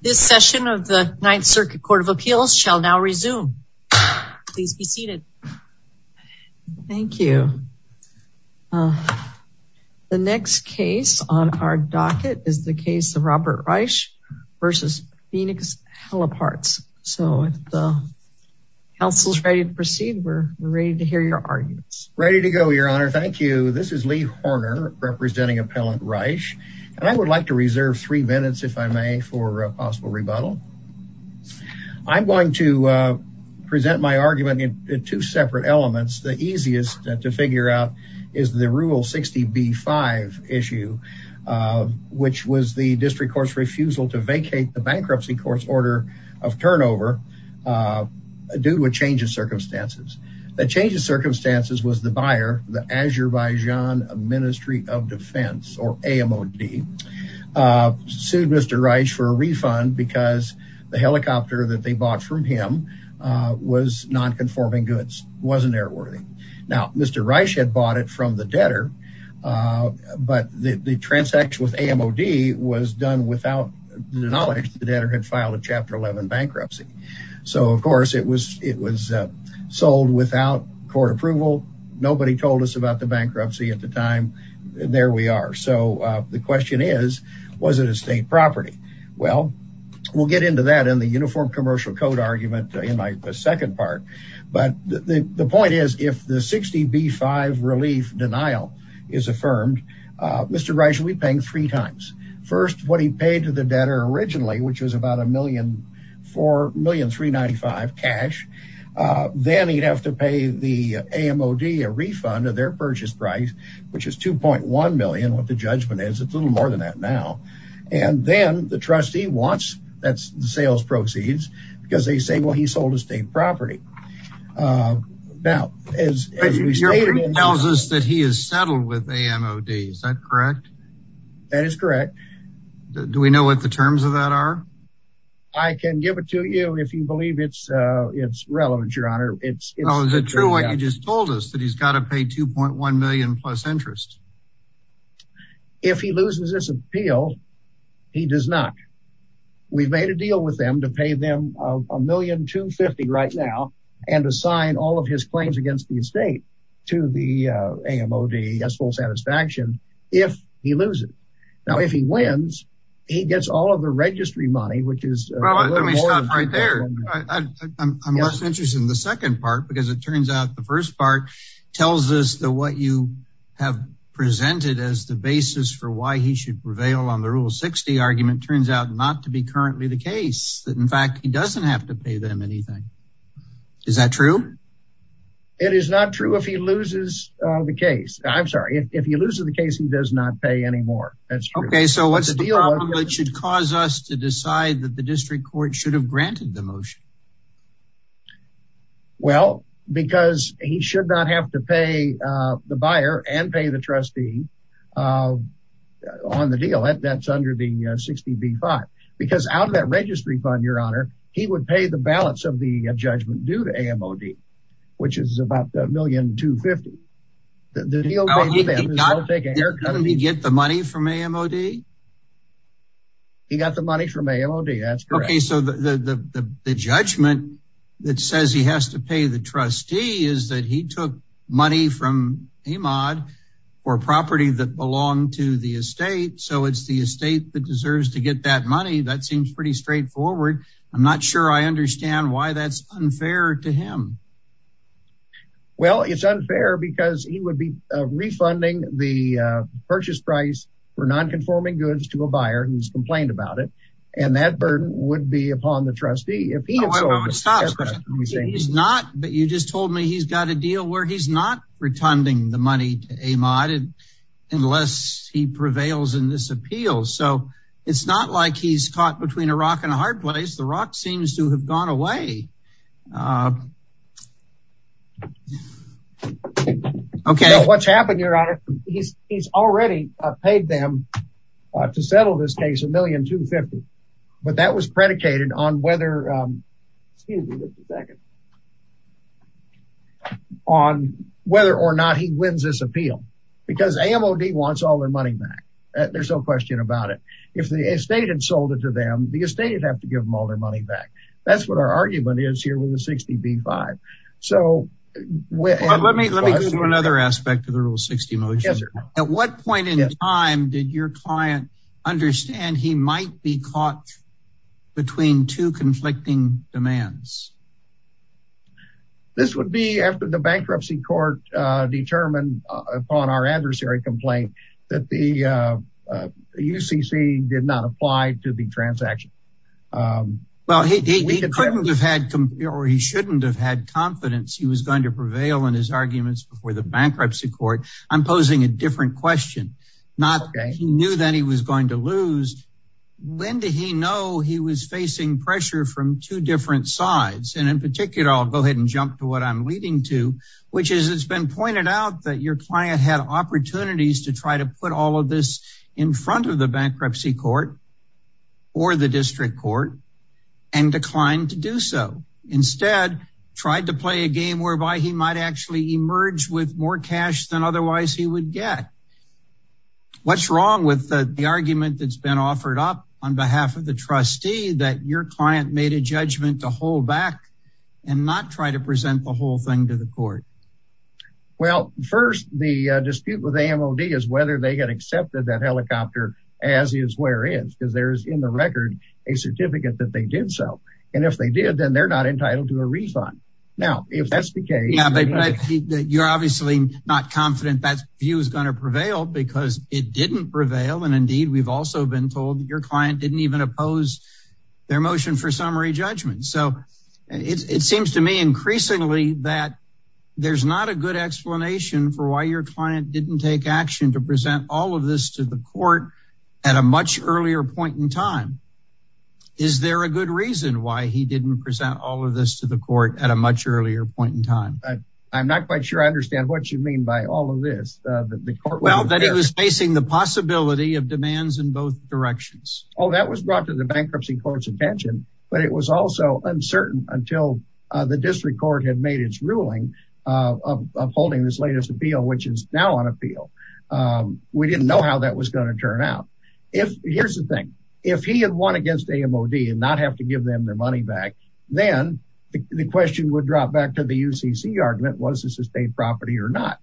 This session of the Ninth Circuit Court of Appeals shall now resume. Please be seated. Thank you. The next case on our docket is the case of Robert Reisch v. Phoenix Heliparts. So if the council is ready to proceed, we're ready to hear your arguments. Ready to go, Your Honor. Thank you. This is Lee Horner representing Appellant Reisch, and I would like to reserve three minutes, if I may, for a possible rebuttal. I'm going to present my argument in two separate elements. The easiest to figure out is the Rule 60B-5 issue, which was the district court's refusal to vacate the bankruptcy court's order of turnover due to a change of circumstances. The change of circumstances was the buyer, the Azerbaijan Ministry of Defense, or AMOD, sued Mr. Reisch for a refund because the helicopter that they bought from him was non-conforming goods, wasn't airworthy. Now, Mr. Reisch had bought it from the debtor, but the transaction with AMOD was done without the knowledge the debtor had filed a Chapter 11 bankruptcy. So, of course, it was sold without court approval. Nobody told us about the bankruptcy at the time, and there we are. So, the question is, was it a state property? Well, we'll get into that in the Uniform Commercial Code argument in the second part, but the point is, if the 60B-5 relief denial is affirmed, Mr. Reisch will be paying three times. First, what he paid to the debtor originally, which was about $1,395,000 cash. Then, he'd have to pay the AMOD a refund of their purchase price, which is $2.1 million, what the judgment is. It's a little more than that now. And then, the trustee wants, that's the sales proceeds, because they say, well, he sold a state property. Now, as we stated- Your proof tells us that he has settled with AMOD. Is that correct? That is correct. Do we know what the terms of that are? I can give it to you if you believe it's relevant, Your Honor. Is it true what you just told us, that he's got to pay $2.1 million plus interest? If he loses this appeal, he does not. We've made a deal with them to pay them $1,250,000 right now, and assign all of his claims against the estate to the AMOD as full satisfaction if he loses. Now, if he wins, he gets all of the registry money, which is- Well, let me stop right there. I'm less interested in the second part, because it turns out the first part tells us that what you have presented as the basis for why he should prevail on the Rule 60 argument turns out not to be currently the case, that in fact, he doesn't have to pay them anything. Is that true? It is not true if he loses the case. I'm sorry. If he loses the case, he does not pay anymore. Okay, so what's the deal that should cause us to decide that the district court should have granted the motion? Well, because he should not have to pay the buyer and pay the trustee on the deal that's under the 60B-5, because out of that registry fund, Your Honor, he would pay the balance of the judgment due to AMOD, which is about $1,250,000. The deal- How did he get the money from AMOD? He got the money from AMOD. That's correct. Okay, so the judgment that says he has to pay the trustee is that he took money from AMOD for property that belonged to the estate, so it's the estate that deserves to get that money. That seems pretty straightforward. I'm not sure I understand why that's unfair to him. Well, it's unfair because he would be refunding the purchase price for non-conforming goods to a buyer who's complained about it, and that burden would be upon the trustee if he- I would stop. He's not, but you just told me he's got a deal where he's not retunding the money to AMOD unless he prevails in this appeal, so it's not like he's caught between a rock and a hard place. The rock seems to have gone away. Okay. What's happened, Your Honor, he's already paid them to settle this case, $1,250,000, but that was predicated on whether- excuse me just a second- on whether or not he wins this appeal because AMOD wants all the estate to give them all their money back. That's what our argument is here with the 60B-5. Let me go to another aspect of the Rule 60 motion. At what point in time did your client understand he might be caught between two conflicting demands? This would be after the bankruptcy court determined upon our adversary complaint that the Well, he couldn't have had- or he shouldn't have had confidence he was going to prevail in his arguments before the bankruptcy court. I'm posing a different question. Not that he knew that he was going to lose. When did he know he was facing pressure from two different sides? And in particular, I'll go ahead and jump to what I'm leading to, which is it's been pointed out that your client had opportunities to try to put all of this in front of the bankruptcy court, or the district court, and declined to do so. Instead, tried to play a game whereby he might actually emerge with more cash than otherwise he would get. What's wrong with the argument that's been offered up on behalf of the trustee that your client made a judgment to hold back and not try to present the whole thing to the court? Well, first, the dispute with AMOD is whether they had accepted that helicopter as is, whereas, because there's in the record, a certificate that they did so. And if they did, then they're not entitled to a refund. Now, if that's the case- Yeah, but you're obviously not confident that view is going to prevail because it didn't prevail. And indeed, we've also been told that your client didn't even oppose their motion for summary judgment. So it seems to me increasingly that there's not a good explanation for why your client didn't take action to present all of this to the court at a much earlier point in time. Is there a good reason why he didn't present all of this to the court at a much earlier point in time? I'm not quite sure I understand what you mean by all of this. The court- Well, that it was facing the possibility of demands in both directions. Oh, that was brought to the bankruptcy court's attention, but it was also uncertain until the latest appeal, which is now on appeal. We didn't know how that was going to turn out. Here's the thing. If he had won against AMOD and not have to give them their money back, then the question would drop back to the UCC argument, was this estate property or not?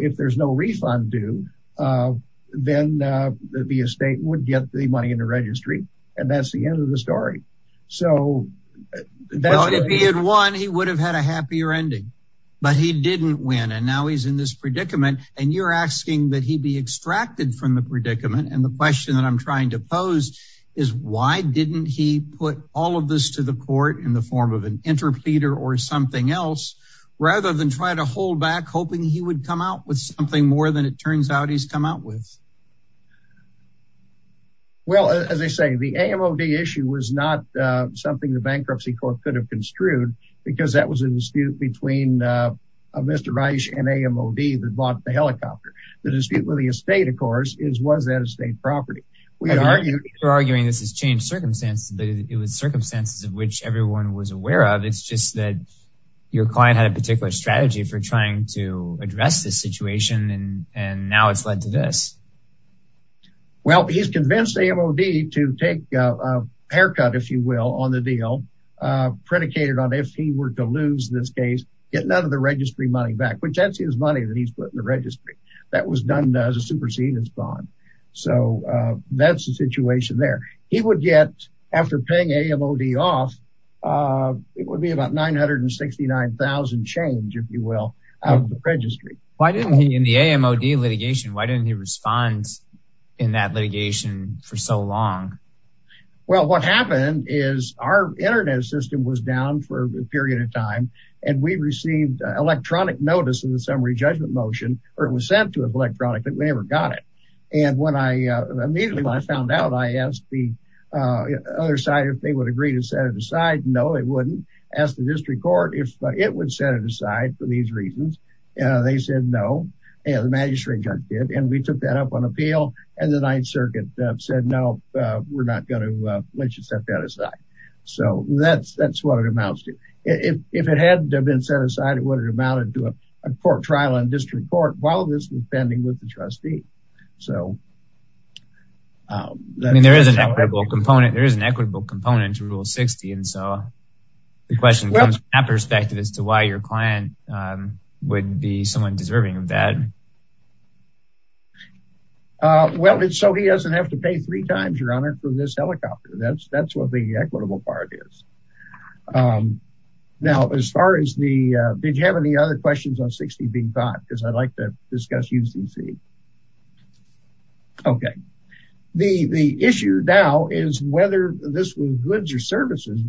If there's no refund due, then the estate would get the money in the registry. And that's the end of the story. So- Well, if he had won, he would have had a happier ending, but he didn't win. And now he's in this predicament and you're asking that he be extracted from the predicament. And the question that I'm trying to pose is why didn't he put all of this to the court in the form of an interpleader or something else, rather than try to hold back, hoping he would come out with something more than it turns out he's come out with? Well, as I say, the AMOD issue was not something the bankruptcy court could have construed because that was a dispute between Mr. Reich and AMOD that bought the helicopter. The dispute with the estate, of course, was that estate property. We argued- You're arguing this has changed circumstances, but it was circumstances of which everyone was aware of. It's just that your client had a particular strategy for trying to address this situation and now it's led to this. Well, he's convinced AMOD to take a haircut, if you will, on the deal, predicated on if he were to lose this case, get none of the registry money back, which that's his money that he's put in the registry. That was done as a supersedence bond. So that's the situation there. He would get, after paying AMOD off, it would be about 969,000 change, if you will, out of the registry. Why didn't he, in the AMOD litigation, why didn't he respond in that litigation for so long? Well, what happened is our internet system was down for a period of time and we received electronic notice of the summary judgment motion, or it was sent to us electronically, but we never got it. And immediately when I found out, I asked the other side if they would agree to set it aside. No, they wouldn't. I asked the district court if it would set it aside. They said no. The magistrate judge did and we took that up on appeal and the Ninth Circuit said no, we're not going to let you set that aside. So that's what it amounts to. If it hadn't been set aside, it would have amounted to a court trial in district court while this was pending with the trustee. There is an equitable component to Rule 60. And so the question comes from that perspective as to why your client wouldn't be someone deserving of that. Well, so he doesn't have to pay three times, Your Honor, for this helicopter. That's what the equitable part is. Now, as far as the, did you have any other questions on 60 being thought? Because I'd like to discuss UCC. Okay. The issue now is whether this was goods or services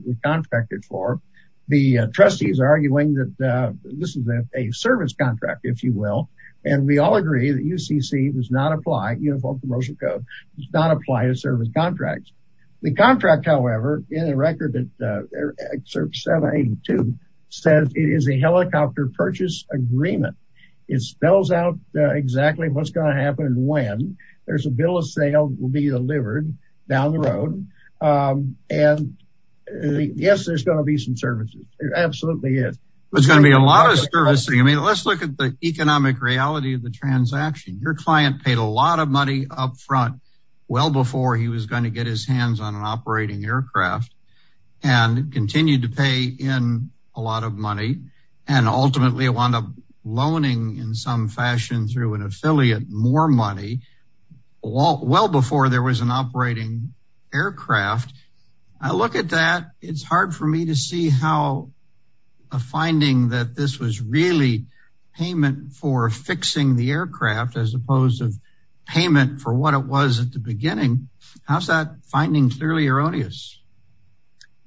we trustees are arguing that this is a service contract, if you will. And we all agree that UCC does not apply, Uniform Commercial Code, does not apply to service contracts. The contract, however, in a record that serves 782 says it is a helicopter purchase agreement. It spells out exactly what's going to happen when there's a bill of sale will be delivered down the road. And yes, there's going to be some services. There absolutely is. There's going to be a lot of servicing. I mean, let's look at the economic reality of the transaction. Your client paid a lot of money up front, well before he was going to get his hands on an operating aircraft, and continued to pay in a lot of money. And ultimately wound up loaning in some fashion through an affiliate more money, well before there was an operating aircraft. I look at that, it's hard for me to see how a finding that this was really payment for fixing the aircraft as opposed to payment for what it was at the beginning. How's that finding clearly erroneous?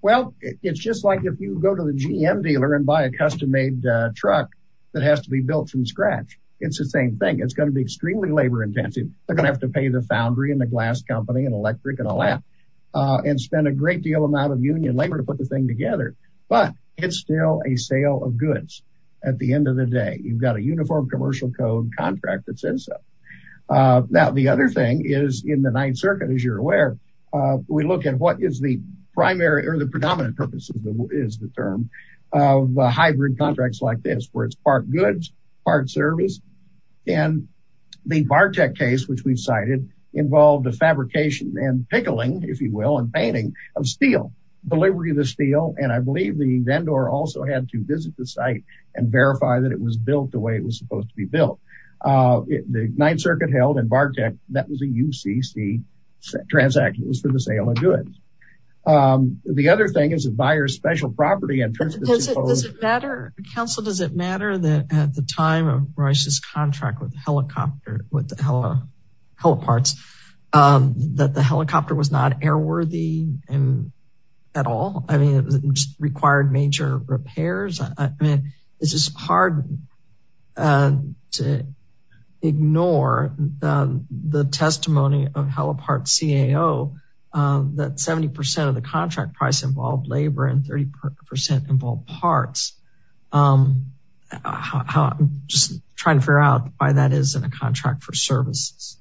Well, it's just like if you go to the GM dealer and buy a custom made truck that has to be built from scratch, it's the same thing, it's going to be extremely labor intensive, they're gonna have to pay the foundry and the glass company and electric and all that and spend a great deal amount of union labor to put the thing together. But it's still a sale of goods. At the end of the day, you've got a uniform commercial code contract that says so. Now the other thing is in the Ninth Circuit, as you're aware, we look at what is the primary or the where it's part goods, part service. And the Bartek case, which we've cited involved the fabrication and pickling, if you will, and painting of steel, delivery of the steel. And I believe the vendor also had to visit the site and verify that it was built the way it was supposed to be built. The Ninth Circuit held and Bartek that was a UCC transaction was for the sale of at the time of Rice's contract with the helicopter, with the heliparts, that the helicopter was not airworthy. And at all, I mean, it was required major repairs. I mean, it's just hard to ignore the testimony of helipart CAO, that 70% of the contract price involved labor and 30% involved parts. I'm just trying to figure out why that is in a contract for services.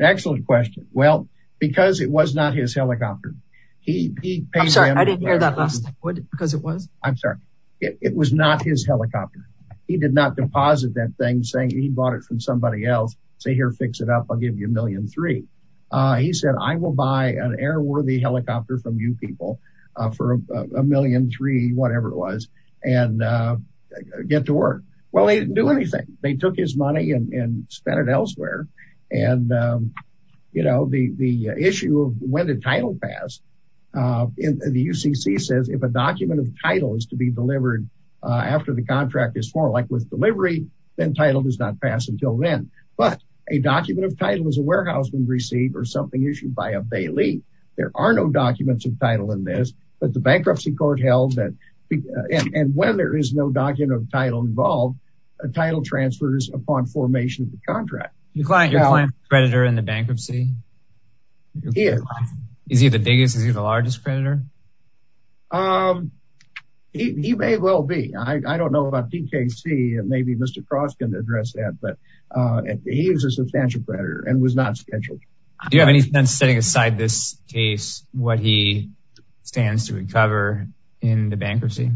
Excellent question. Well, because it was not his helicopter, he paid... I'm sorry, I didn't hear that last because it was? I'm sorry. It was not his helicopter. He did not deposit that thing saying he bought it from somebody else. Say here, fix it up. I'll give you a million three. He said, I will buy an airworthy helicopter from you people for a million three, whatever it was, and get to work. Well, they didn't do anything. They took his money and spent it elsewhere. And, you know, the issue of when the title passed in the UCC says if a document of title is to be delivered after the contract is formed, like with delivery, then title does not pass until then. But a document of title is a document of title in this, but the bankruptcy court held that. And when there is no document of title involved, a title transfers upon formation of the contract. Your client is a creditor in the bankruptcy? He is. Is he the biggest? Is he the largest creditor? He may well be. I don't know about DKC. Maybe Mr. Cross can address that. But he is a substantial creditor and was not scheduled. Do you have any sense setting aside this case what he stands to recover in the bankruptcy?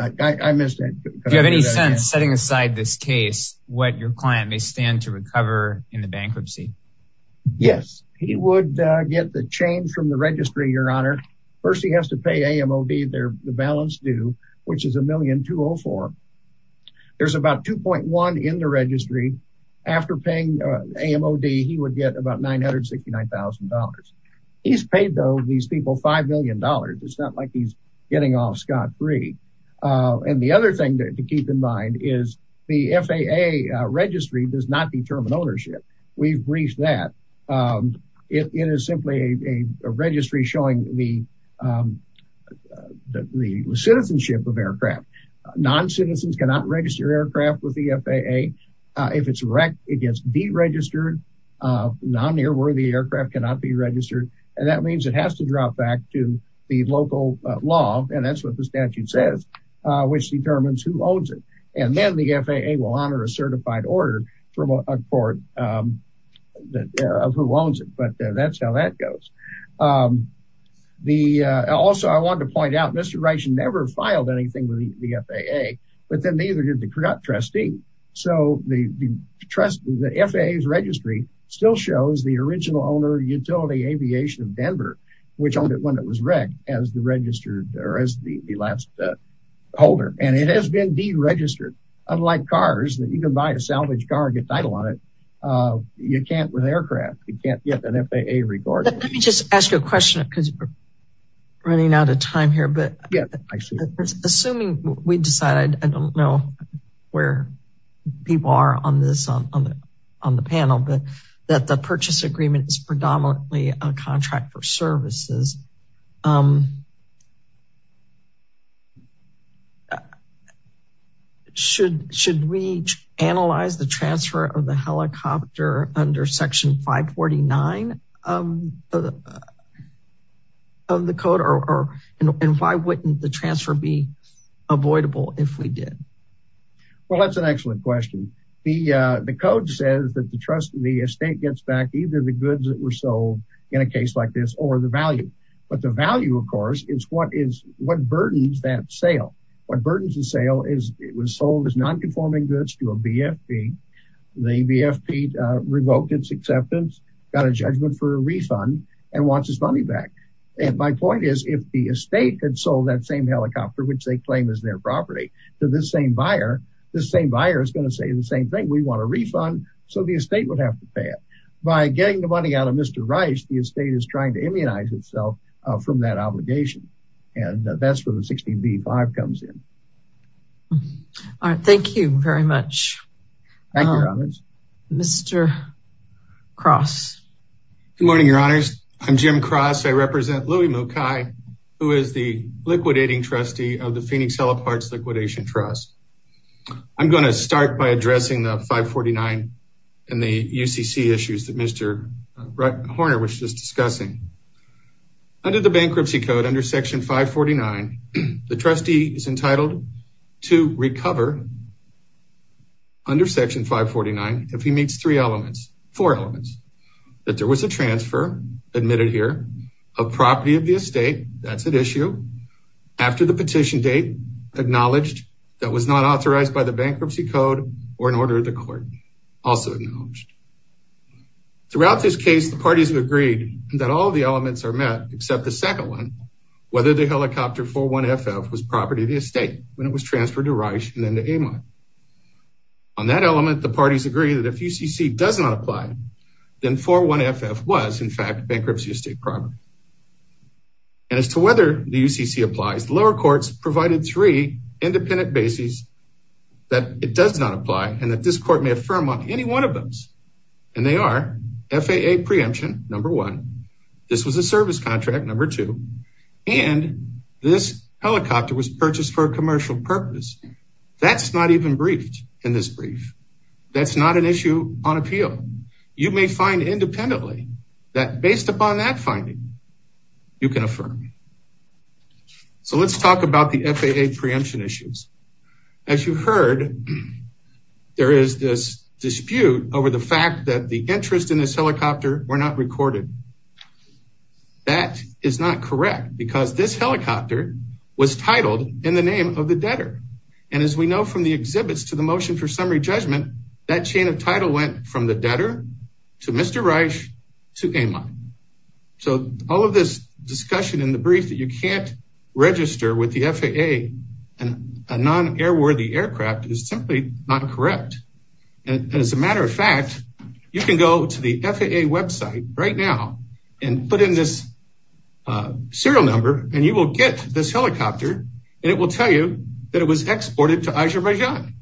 I missed it. Do you have any sense setting aside this case what your client may stand to recover in the bankruptcy? Yes, he would get the change from the registry, Your Honor. First, he has to pay AMOD, the balance which is $1,204,000. There's about $2.1 million in the registry. After paying AMOD, he would get about $969,000. He's paid, though, these people $5 million. It's not like he's getting off scot-free. And the other thing to keep in mind is the FAA registry does not determine ownership. We've reached that. It is simply a registry showing the citizenship of aircraft. Non-citizens cannot register aircraft with the FAA. If it's wrecked, it gets deregistered. Non-nearworthy aircraft cannot be registered. And that means it has to drop back to the local law. And that's what the statute says, which determines who owns it. And then the FAA will issue a certified order for who owns it. But that's how that goes. Also, I wanted to point out, Mr. Reichen never filed anything with the FAA, but then neither did the trustee. So the FAA's registry still shows the original owner, Utility Aviation of Denver, which owned it when it was wrecked as the last holder. And it has been deregistered, unlike cars that you can buy a salvage car and get title on it. You can't with aircraft. You can't get an FAA record. Let me just ask you a question because we're running out of time here. Assuming we decide, I don't know where people are on this on the panel, but that the purchase agreement is predominantly a contract for services. Should we analyze the transfer of the helicopter under Section 549 of the code? And why wouldn't the transfer be avoidable if we did? Well, that's an excellent question. The code says that the trustee estate gets back either the goods that were sold in a case like this or the value. But the value, of course, is what burdens that sale. What burdens the sale is it was sold as nonconforming goods to a BFP. The BFP revoked its acceptance, got a judgment for a refund, and wants its money back. And my point is, if the estate had sold that same helicopter, which they claim is their property, to the same buyer, the same buyer is going to say the same thing. We want a refund, so the estate would have to pay it. By getting the money out of Mr. Rice, the estate is trying to immunize itself from that obligation. And that's where the 16b-5 comes in. All right. Thank you very much, Mr. Cross. Good morning, your honors. I'm Jim Cross. I represent Louie Mukai, who is the liquidating trustee of the Phoenix Hella Parts Liquidation Trust. I'm going to start by addressing the 549 and the UCC issues that Mr. Horner was just discussing. Under the bankruptcy code, under section 549, the trustee is entitled to recover under section 549, if he meets three elements, four elements, that there was a transfer, admitted here, of property of the estate, that's at issue, after the petition date, acknowledged, that was not authorized by the bankruptcy code or an order of the court, also acknowledged. Throughout this case, the parties have agreed that all the elements are met, except the second one, whether the helicopter 4-1FF was property of the estate when it was transferred to Rice and then to Amon. On that element, the parties agree that if UCC does not apply, then 4-1FF was, in fact, bankruptcy estate property. And as to whether the UCC applies, lower courts provided three independent bases that it does not apply and that this court may affirm on any one of those. And they are FAA preemption, number one, this was a service contract, number two, and this helicopter was purchased for a commercial purpose. That's not even briefed in this brief. That's not an issue on appeal. You may find independently that based upon that finding, you can affirm. So let's talk about the FAA preemption issues. As you heard, there is this dispute over the fact that the interest in this helicopter were not recorded. That is not correct because this helicopter was titled in the name of the debtor. And as we know from the exhibits to the motion for summary judgment, that chain of title went from the debtor to Mr. Rice to Amon. So all of this discussion in the brief that you can't register with the FAA and a non-airworthy aircraft is simply not correct. And as a matter of fact, you can go to the FAA website right now and put in this serial number and you will get this helicopter and it will tell you that it was exported to Azerbaijan.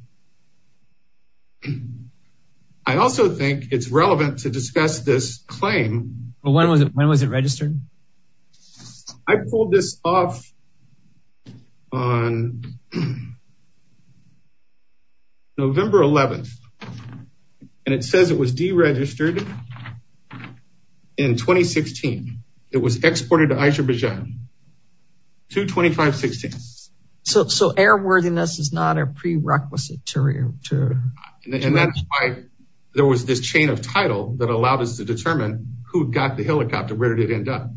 I also think it's relevant to discuss this claim. But when was it when was it registered? I pulled this off on November 11th and it says it was deregistered in 2016. It was exported to Azerbaijan 2-25-16. So airworthiness is not a prerequisite. And that's why there was this chain of title that allowed us to determine who got the helicopter, where did it end up?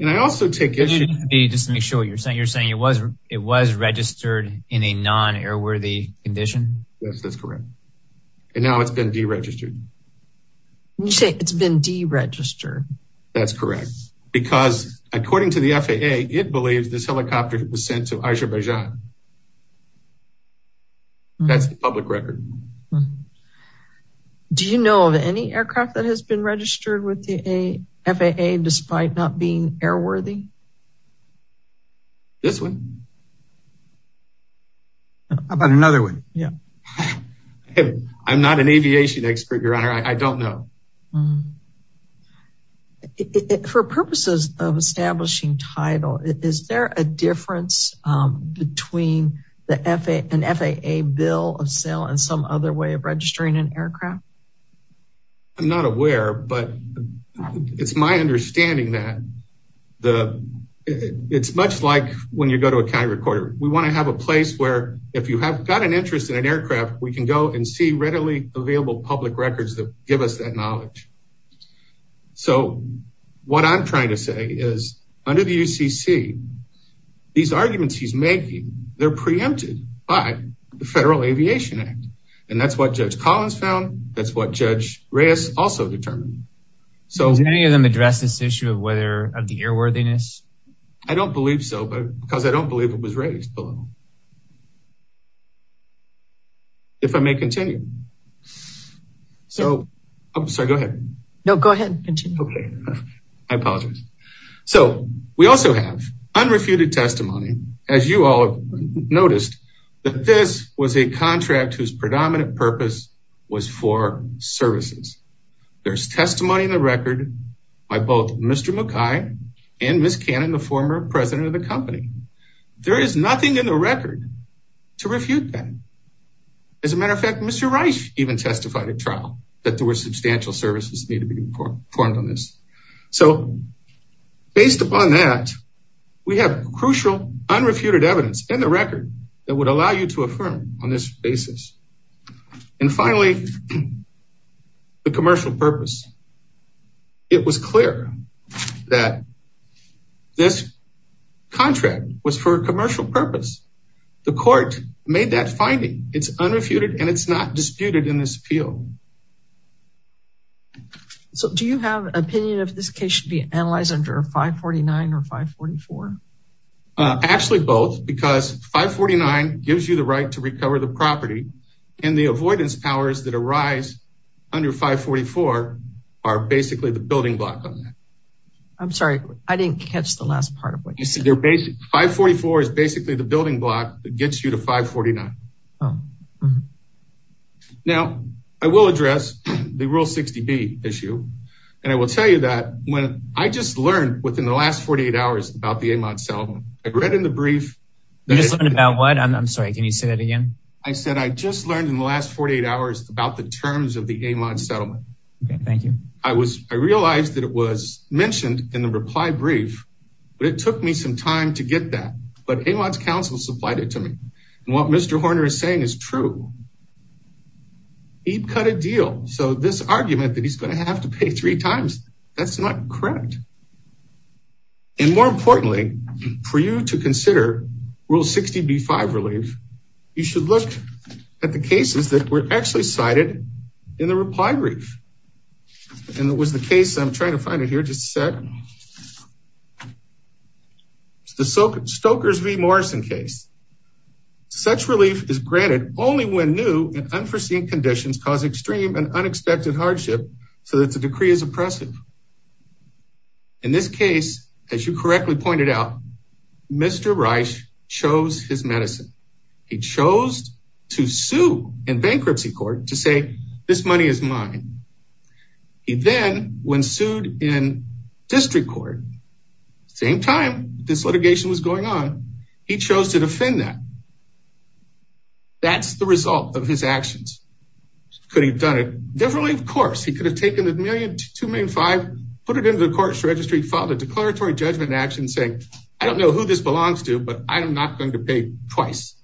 And I also take issue... Just to make sure what you're saying, you're saying it was registered in a non-airworthy condition? Yes, that's correct. And now it's been deregistered. It's been deregistered. That's correct. Because according to the FAA, it believes this helicopter was sent to Azerbaijan. That's the public record. Do you know of any aircraft that has been registered with the FAA despite not being airworthy? This one. How about another one? Yeah. I'm not an aviation expert, Your Honor. I don't know. For purposes of establishing title, is there a difference between an FAA bill of sale and some other way of registering an aircraft? I'm not aware, but it's my understanding that it's much like when you go to a county recorder. We want to have a place where if you have got an interest in an aircraft, we can go and see So what I'm trying to say is under the UCC, these arguments he's making, they're preempted by the Federal Aviation Act. And that's what Judge Collins found. That's what Judge Reyes also determined. Does any of them address this issue of the airworthiness? I don't believe so because I don't believe it was raised below. If I may continue. So, I'm sorry, go ahead. No, go ahead. I apologize. So we also have unrefuted testimony, as you all noticed, that this was a contract whose predominant purpose was for services. There's testimony in the record by both Mr. McKay and Ms. Cannon, the former president of the company. There is nothing in the record to refute that. As a matter of fact, Mr. Reyes even testified at trial that there were substantial services needed to be performed on this. So based upon that, we have crucial unrefuted evidence in the record that would allow you to affirm on this basis. And finally, the commercial purpose. It was clear that this contract was for a commercial purpose. The court made that finding. It's unrefuted and it's not disputed in this appeal. So do you have an opinion if this case should be analyzed under 549 or 544? Actually both because 549 gives you the right to recover the property and the avoidance powers that arise under 544 are basically the building block on that. I'm sorry, I didn't catch the last part of what you said. 544 is basically the building block that gets you to 549. Now I will address the Rule 60B issue and I will tell you that when I just learned within the last 48 hours about the Amon Settlement, I read in the brief. You just learned about what? I'm sorry, can you say that again? I said I just learned in the last 48 hours about the terms of the Amon Settlement. Okay, thank you. I realized that it was mentioned in the reply brief, but it took me some time to get that. But Amon's counsel supplied it to me and what Mr. Horner is saying is true. He cut a deal, so this argument that he's going to have to pay three times, that's not correct. And more importantly, for you to consider Rule 60B-5 relief, you should look at the cases that were actually cited in the reply brief. And it was the case, I'm trying to find it here, just a sec. It's the Stoker's v. Morrison case. Such relief is granted only when new and unforeseen conditions cause extreme and unexpected hardship so that the decree is oppressive. In this case, as you correctly pointed out, Mr. Reich chose his medicine. He chose to sue in bankruptcy court to say this money is mine. He then, when sued in district court, same time this litigation was going on, he chose to defend that. That's the result of his actions. Could he have done it differently? Of course, he could have taken the $1 million, $2 million, $5 million, put it into the court's registry, filed a declaratory judgment action saying, I don't know who this belongs to, but I'm not going to pay twice.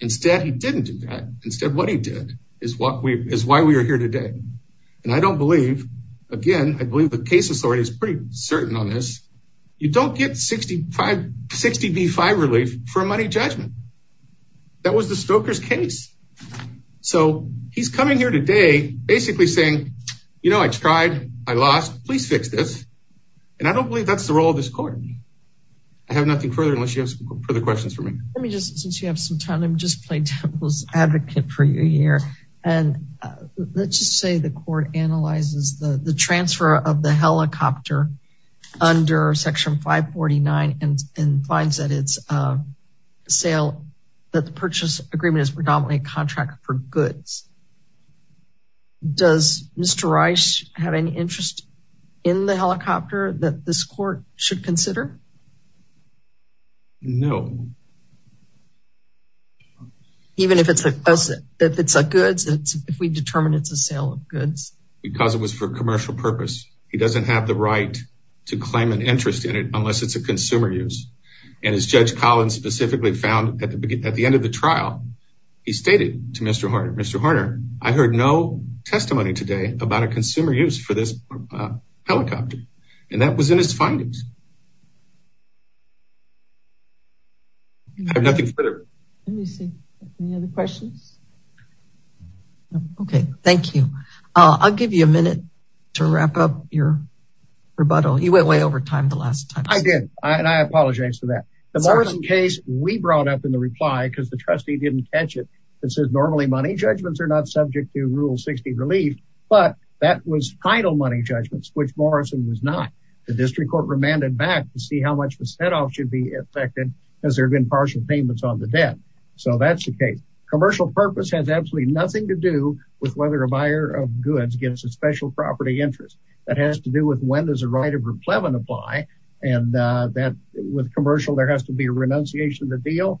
Instead, he didn't do that. Instead, what he did is why we are here today. I don't believe, again, I believe the case authority is pretty certain on this. You don't get 60 v. 5 relief for a money judgment. That was the Stoker's case. He's coming here today basically saying, you know, I tried, I lost, please fix this. I don't believe that's the role of this court. I have nothing further unless you have some further questions for me. Let me just, since you have some time, let me just play Temple's advocate for you here. And let's just say the court analyzes the transfer of the helicopter under section 549 and finds that it's a sale, that the purchase agreement is predominantly a contract for goods. Does Mr. Rice have any interest in the helicopter that this court should consider? No. Even if it's a goods, if we determine it's a sale of goods. Because it was for commercial purpose. He doesn't have the right to claim an interest in it unless it's a consumer use. And as Judge Collins specifically found at the end of the trial, he stated to Mr. Horner, Mr. Horner, I heard no testimony today about a consumer use for this helicopter. And that was in his findings. I have nothing further. Let me see. Any other questions? Okay. Thank you. I'll give you a minute to wrap up your rebuttal. You went way over time the last time. I did. And I apologize for that. The Morrison case, we brought up in the reply because the trustee didn't catch it. It says normally money judgments are not subject to Rule 60 relief, but that was title money judgments, which Morrison was not. The district court remanded that. See how much the set off should be affected. Has there been partial payments on the debt? So that's the case. Commercial purpose has absolutely nothing to do with whether a buyer of goods gets a special property interest. That has to do with when there's a right of replevant apply. And that with commercial, there has to be a renunciation of the deal,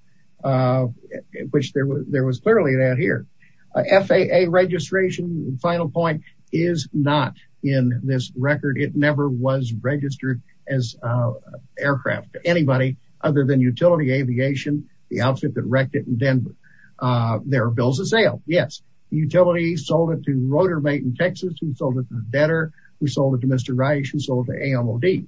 which there was clearly that here. FAA registration final point is not in this record. It never was registered as aircraft to anybody other than utility aviation, the outfit that wrecked it in Denver. There are bills of sale. Yes. Utility sold it to Rotormate in Texas. We sold it to the debtor. We sold it to Mr. Reich. We sold it to AMOD.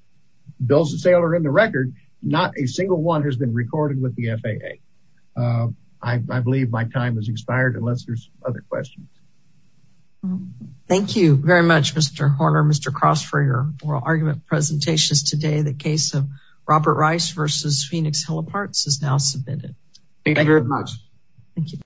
Bills of sale are in the record. Not a single one has been recorded with the FAA. I believe my time has expired unless there's other questions. Thank you very much, Mr. Horner. Mr. Cross for your oral argument presentations today. The case of Robert Rice versus Phoenix Heliparts is now submitted. Thank you very much. Thank you.